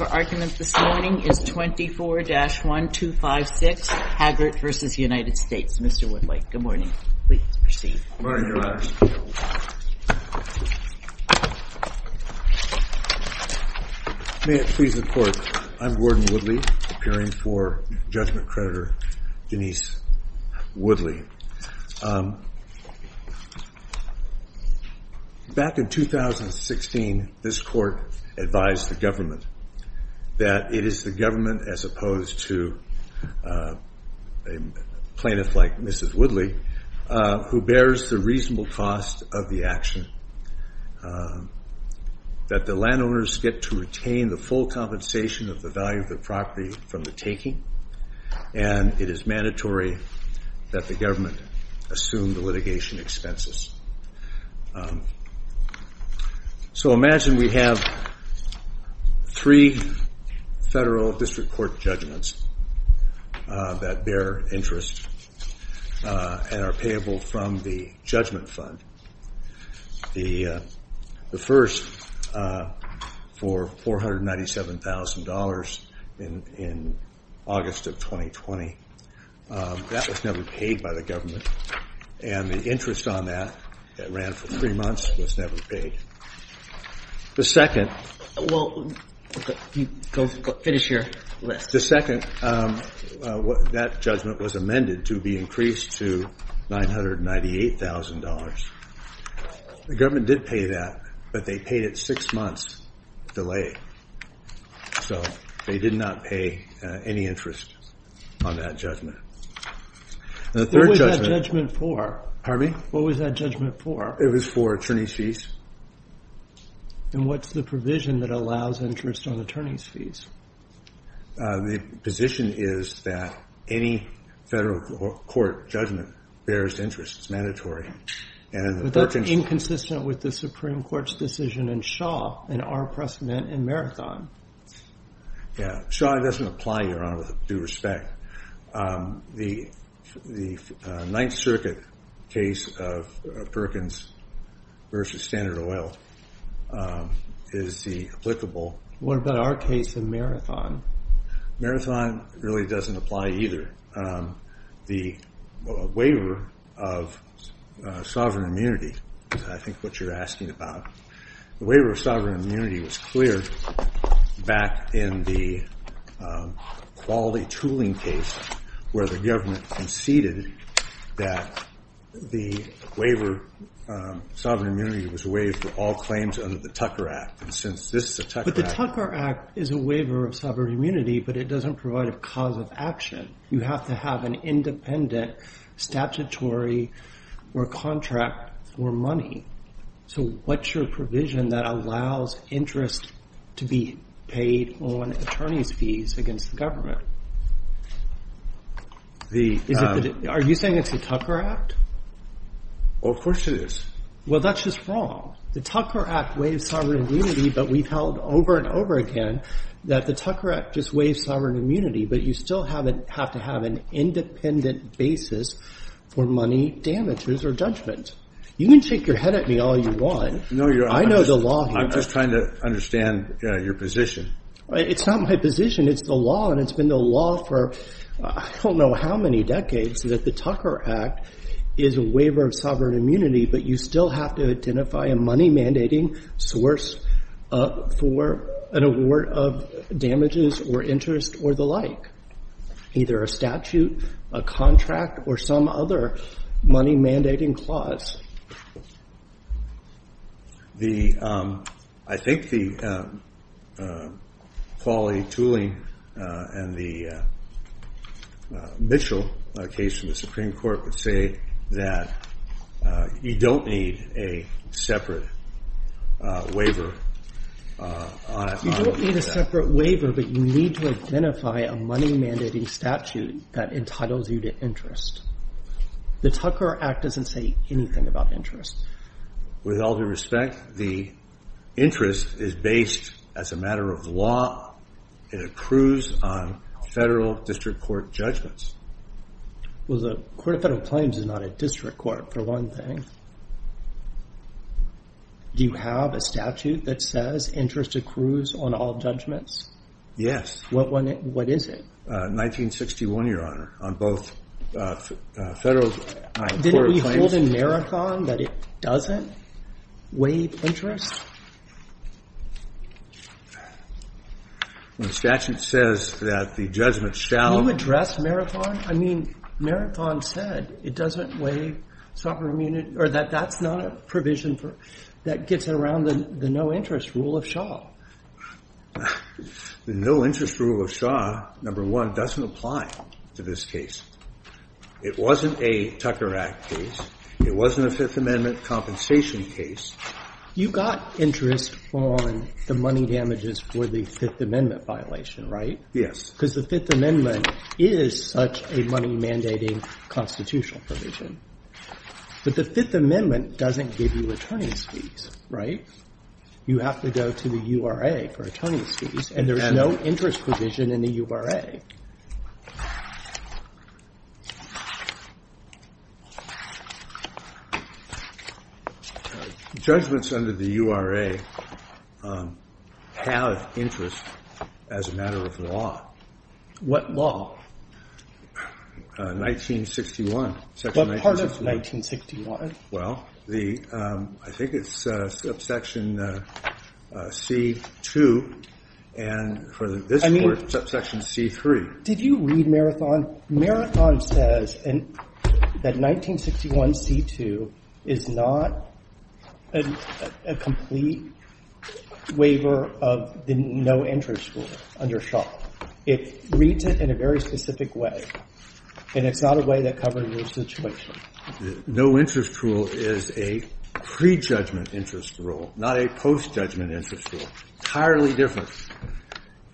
May it please the Court, I'm Gordon Woodley, appearing for Judgment Creditor Denise Woodley. Back in 2016, this Court advised the government that it is the government, as opposed to a plaintiff like Mrs. Woodley, who bears the reasonable cost of the action, that the landowners get to retain the full compensation of the value of the property from the taking, and it is mandatory that the government assume the litigation expenses. So imagine we have three federal district court judgments that bear interest and are payable from the judgment fund. The first, for $497,000 in August of 2020, that was never paid by the government, and the interest on that, that ran for three months, was never paid. The second, that judgment was amended to be increased to $998,000. The government did pay that, but they paid it six months delay. So they did not pay any interest on that judgment. What was that judgment for? It was for attorney's fees. And what's the provision that allows interest on attorney's fees? The position is that any federal court judgment bears interest. It's mandatory. But that's inconsistent with the Supreme Court's decision in Shaw, in our precedent in Marathon. Shaw, it doesn't apply, Your Honor, with due respect. The Ninth Circuit case of Perkins v. Standard Oil is applicable. What about our case in Marathon? Marathon really doesn't apply either. The waiver of sovereign immunity, I think what you're asking about, the waiver of sovereign immunity was cleared back in the quality tooling case, where the government conceded that the waiver of sovereign immunity was waived for all claims under the Tucker Act. But the Tucker Act is a waiver of sovereign immunity, but it doesn't provide a cause of action. You have to have an independent statutory or contract for money. So what's your provision that allows interest to be paid on attorney's fees against the government? Are you saying it's the Tucker Act? Of course it is. Well, that's just wrong. The Tucker Act waives sovereign immunity, but we've held over and over again that the Tucker Act just waives sovereign immunity, but you still have to have an independent basis for money, damages, or judgment. You can shake your head at me all you want. No, Your Honor. I know the law here. I'm just trying to understand your position. It's not my position. It's the law, and it's been the law for I don't know how many decades, that the Tucker Act is a waiver of sovereign immunity, but you still have to identify a money-mandating source for an award of damages or interest or the like, either a statute, a contract, or some other money-mandating clause. I think the Pauley-Tooling and the Mitchell case in the Supreme Court would say that you don't need a separate waiver on it. You don't need a separate waiver, but you need to identify a money-mandating statute that entitles you to interest. The Tucker Act doesn't say anything about interest. With all due respect, the interest is based, as a matter of law, it accrues on federal district court judgments. Well, the Court of Federal Claims is not a district court, for one thing. Do you have a statute that says interest accrues on all judgments? Yes. What is it? 1961, Your Honor, on both federal and court of claims. Didn't we hold in Marathon that it doesn't waive interest? The statute says that the judgment shall. Can you address Marathon? I mean, Marathon said it doesn't waive sovereign immunity, or that that's not a provision that gets around the no-interest rule of Shaw. The no-interest rule of Shaw, number one, doesn't apply to this case. It wasn't a Tucker Act case. It wasn't a Fifth Amendment compensation case. You got interest on the money damages for the Fifth Amendment violation, right? Yes. Because the Fifth Amendment is such a money-mandating constitutional provision. But the Fifth Amendment doesn't give you returning fees, right? You have to go to the URA for returning fees, and there's no interest provision in the URA. Judgments under the URA have interest as a matter of law. What law? 1961. What part of 1961? Well, the ‑‑ I think it's subsection C2, and for this court, subsection C3. Did you read Marathon? Marathon says that 1961C2 is not a complete waiver of the no-interest rule under Shaw. It reads it in a very specific way, and it's not a way to cover your situation. The no-interest rule is a prejudgment interest rule, not a postjudgment interest rule. Entirely different.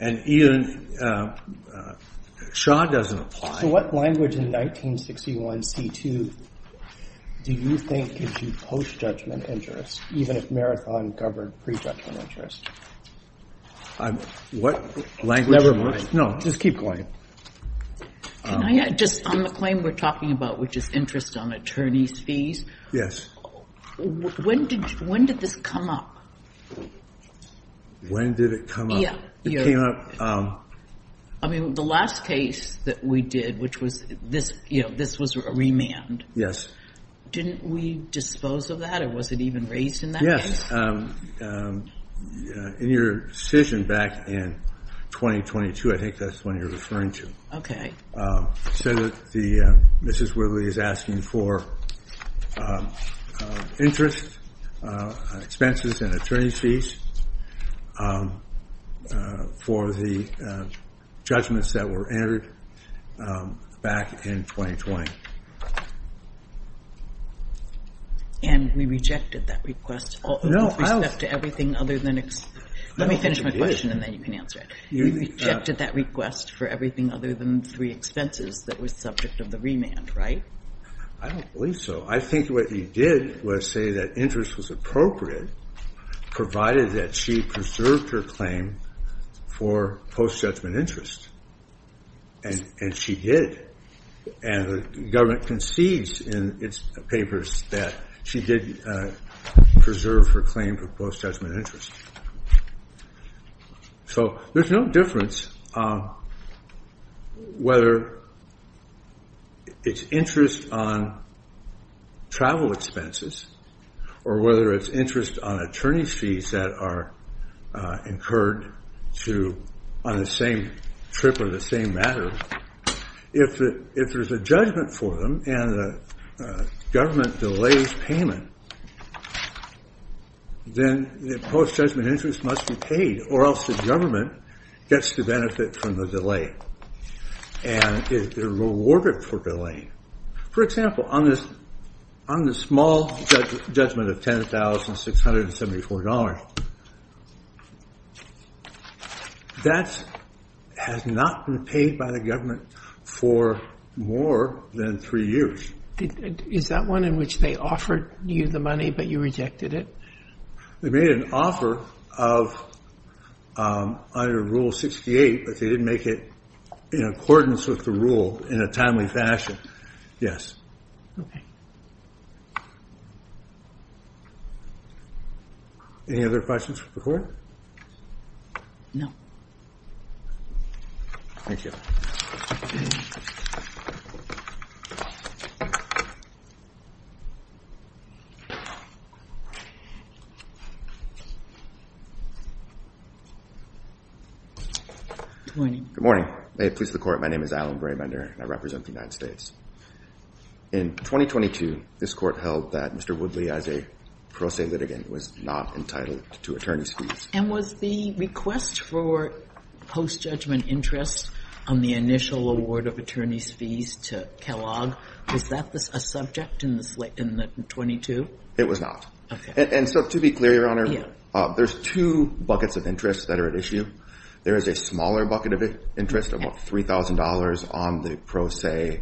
And even ‑‑ Shaw doesn't apply. So what language in 1961C2 do you think gives you postjudgment interest, even if Marathon covered prejudgment interest? What language? Never mind. No, just keep going. Just on the claim we're talking about, which is interest on attorney's fees. When did this come up? When did it come up? It came up ‑‑ I mean, the last case that we did, which was this, you know, this was a remand. Yes. Didn't we dispose of that, or was it even raised in that case? In your decision back in 2022, I think that's the one you're referring to. You said that Mrs. Widley is asking for interest, expenses and attorney's fees for the judgments that were entered back in 2020. And we rejected that request. With respect to everything other than ‑‑ let me finish my question and then you can answer it. You rejected that request for everything other than three expenses that was subject of the remand, right? I don't believe so. I think what you did was say that interest was appropriate, provided that she preserved her claim for postjudgment interest. And she did. And the government concedes in its papers that she did preserve her claim for postjudgment interest. So there's no difference whether it's interest on travel expenses or whether it's interest on attorney's fees that are incurred on the same trip or the same matter. If there's a judgment for them and the government delays payment, then the postjudgment interest must be paid or else the government gets the benefit from the delay. And they're rewarded for delaying. For example, on the small judgment of $10,674, that has not been paid by the government for more than three years. Is that one in which they offered you the money but you rejected it? They made an offer under Rule 68, but they didn't make it in accordance with the rule in a timely fashion. Yes. Any other questions for the court? No. Thank you. Good morning. Good morning. May it please the court, my name is Alan Braymender and I represent the United States. In 2022, this court held that Mr. Woodley, as a pro se litigant, was not entitled to attorney's fees. And was the request for postjudgment interest on the initial award of attorney's fees to Kellogg, was that a subject in the 22? It was not. And so to be clear, Your Honor, there's two buckets of interest that are at issue. There is a smaller bucket of interest, about $3,000, on the pro se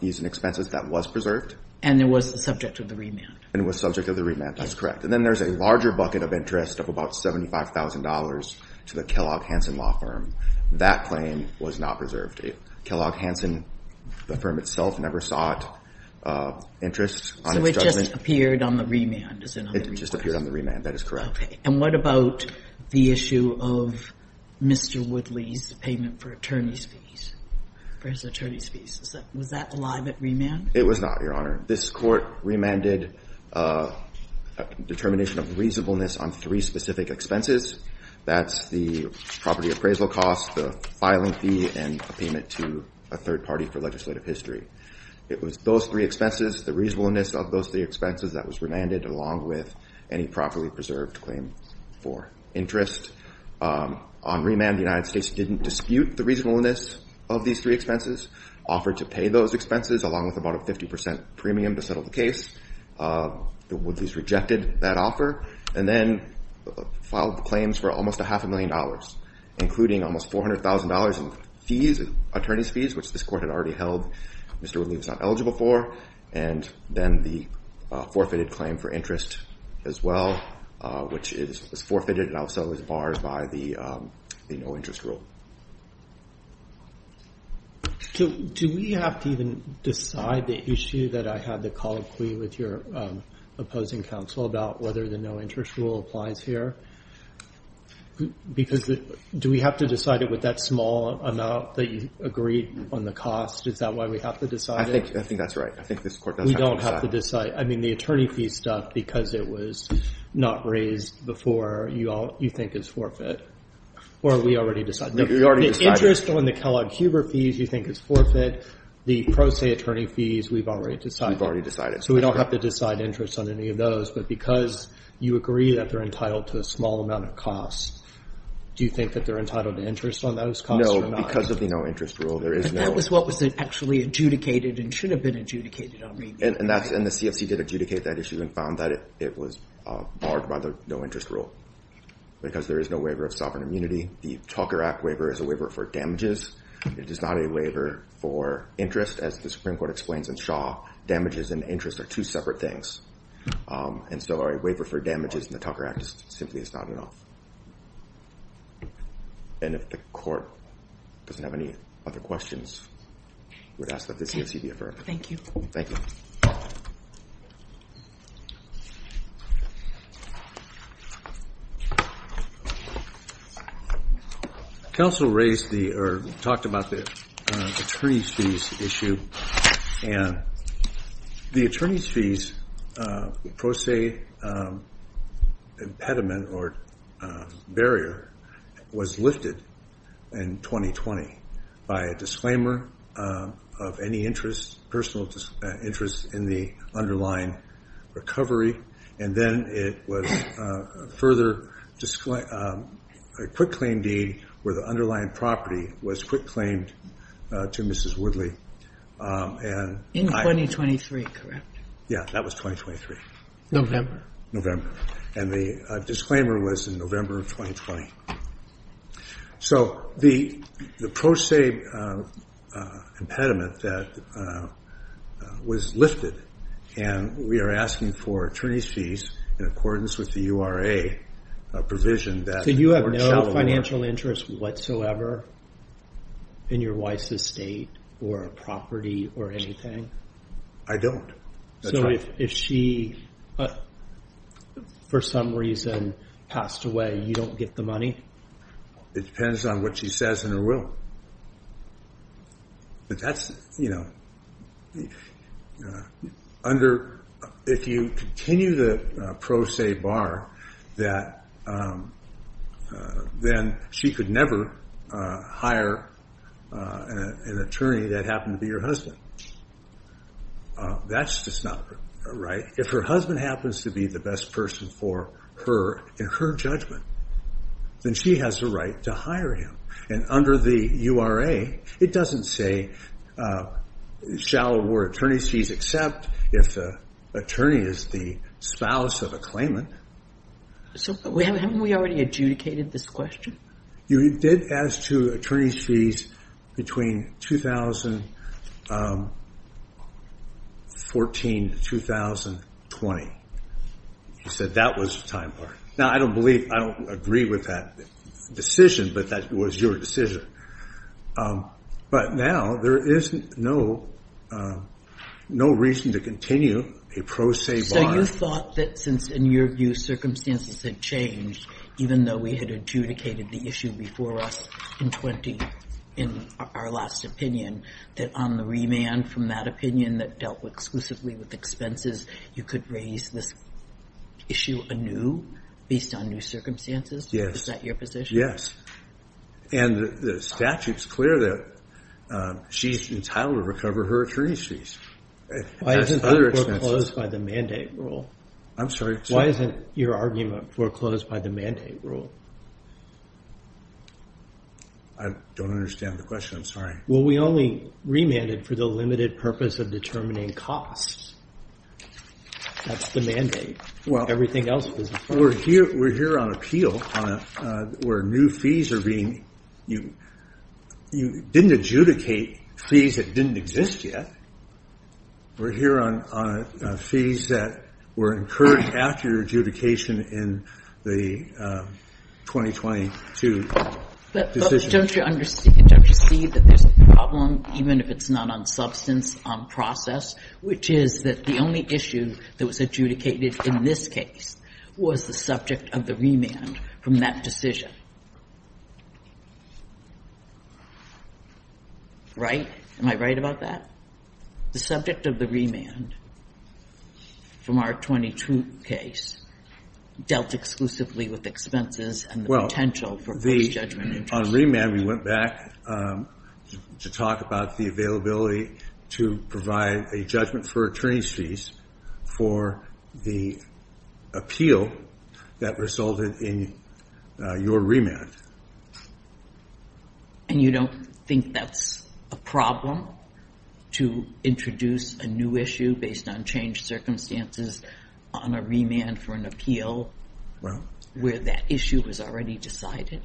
fees and expenses that was preserved. And it was the subject of the remand? And it was subject of the remand, that's correct. And then there's a larger bucket of interest of about $75,000 to the Kellogg Hansen Law Firm. That claim was not preserved. Kellogg Hansen, the firm itself, never sought interest on its judgment. So it just appeared on the remand? It just appeared on the remand, that is correct. And what about the issue of Mr. Woodley's payment for attorney's fees, for his attorney's fees? Was that alive at remand? It was not, Your Honor. This court remanded determination of reasonableness on three specific expenses. That's the property appraisal cost, the filing fee, and payment to a third party for legislative history. It was those three expenses, the reasonableness of those three expenses that was remanded, along with any properly preserved claim for interest. On remand, the United States didn't dispute the reasonableness of these three expenses, offered to pay those expenses, along with about a 50% premium to settle the case. The Woodleys rejected that offer and then filed the claims for almost a half a million dollars, including almost $400,000 in fees, attorney's fees, which this court had already held Mr. Woodley was not eligible for, and then the forfeited claim for interest as well, which is forfeited and also is barred by the no-interest rule. Do we have to even decide the issue that I had the colloquy with your opposing counsel about, whether the no-interest rule applies here? Because do we have to decide it with that small amount that you agreed on the cost? Is that why we have to decide it? I think that's right. I think this court does have to decide. We don't have to decide. I mean, the attorney fees stuff, because it was not raised before, you think is forfeit. Or we already decided. We already decided. The interest on the Kellogg-Huber fees you think is forfeit. The Pro Se attorney fees, we've already decided. We've already decided. So we don't have to decide interest on any of those. But because you agree that they're entitled to a small amount of cost, do you think that they're entitled to interest on those costs or not? No, because of the no-interest rule, there is no – But that was what was actually adjudicated and should have been adjudicated already. And that's – and the CFC did adjudicate that issue and found that it was barred by the no-interest rule because there is no waiver of sovereign immunity. The Talker Act waiver is a waiver for damages. It is not a waiver for interest. As the Supreme Court explains in Shaw, damages and interest are two separate things. And so a waiver for damages in the Talker Act simply is not enough. And if the court doesn't have any other questions, we'd ask that the CFC be affirmed. Thank you. Thank you. Counsel raised the – or talked about the attorney's fees issue. And the attorney's fees pro se impediment or barrier was lifted in 2020 by a disclaimer of any interest, personal interest in the underlying recovery. And then it was further – a quick claim deed where the underlying property was quick claimed to Mrs. Woodley. In 2023, correct? Yeah, that was 2023. November. And the disclaimer was in November of 2020. So the pro se impediment that was lifted, and we are asking for attorney's fees in accordance with the URA provision that – So you have no financial interest whatsoever in your wife's estate or property or anything? I don't. So if she, for some reason, passed away, you don't get the money? It depends on what she says in her will. But that's, you know, under – if you continue the pro se bar, then she could never hire an attorney that happened to be her husband. That's just not right. If her husband happens to be the best person for her in her judgment, then she has the right to hire him. And under the URA, it doesn't say shall award attorney's fees except if the attorney is the spouse of a claimant. So haven't we already adjudicated this question? You did ask for attorney's fees between 2014 and 2020. You said that was the time part. Now, I don't believe – I don't agree with that decision, but that was your decision. But now, there is no reason to continue a pro se bar. So you thought that since, in your view, circumstances had changed, even though we had adjudicated the issue before us in 20 in our last opinion, that on the remand from that opinion that dealt exclusively with expenses, you could raise this issue anew based on new circumstances? Yes. Is that your position? Yes. And the statute's clear that she's entitled to recover her attorney's fees. Why isn't that foreclosed by the mandate rule? I'm sorry. Why isn't your argument foreclosed by the mandate rule? I don't understand the question. I'm sorry. Well, we only remanded for the limited purpose of determining costs. That's the mandate. Well, we're here on appeal where new fees are being – you didn't adjudicate fees that didn't exist yet. We're here on fees that were encouraged after adjudication in the 2022 decision. But don't you see that there's a problem, even if it's not on substance, on process, which is that the only issue that was adjudicated in this case was the subject of the remand from that decision? Right? Am I right about that? The subject of the remand from our 2022 case dealt exclusively with expenses and the potential for free judgment. On remand, we went back to talk about the availability to provide a judgment for attorney's fees for the appeal that resulted in your remand. And you don't think that's a problem to introduce a new issue based on changed circumstances on a remand for an appeal where that issue was already decided?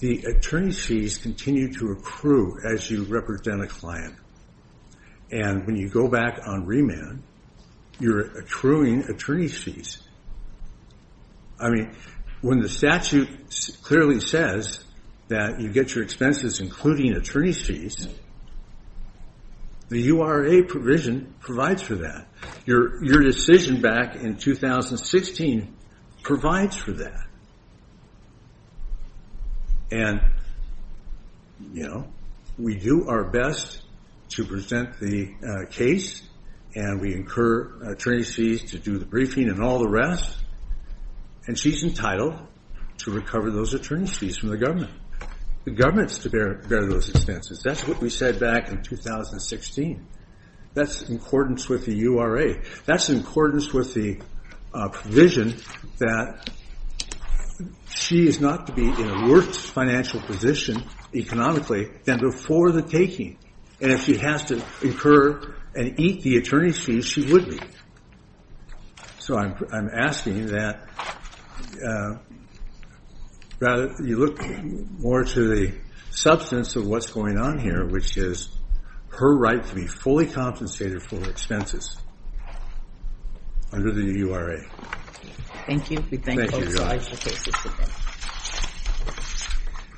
The attorney's fees continue to accrue as you represent a client. And when you go back on remand, you're accruing attorney's fees. I mean, when the statute clearly says that you get your expenses including attorney's fees, the URA provision provides for that. Your decision back in 2016 provides for that. And, you know, we do our best to present the case and we incur attorney's fees to do the briefing and all the rest. And she's entitled to recover those attorney's fees from the government. The government's to bear those expenses. That's what we said back in 2016. That's in accordance with the URA. That's in accordance with the provision that she is not to be in a worse financial position economically than before the taking. And if she has to incur and eat the attorney's fees, she would be. So I'm asking that you look more to the substance of what's going on here, which is her right to be fully compensated for her expenses under the URA. Thank you.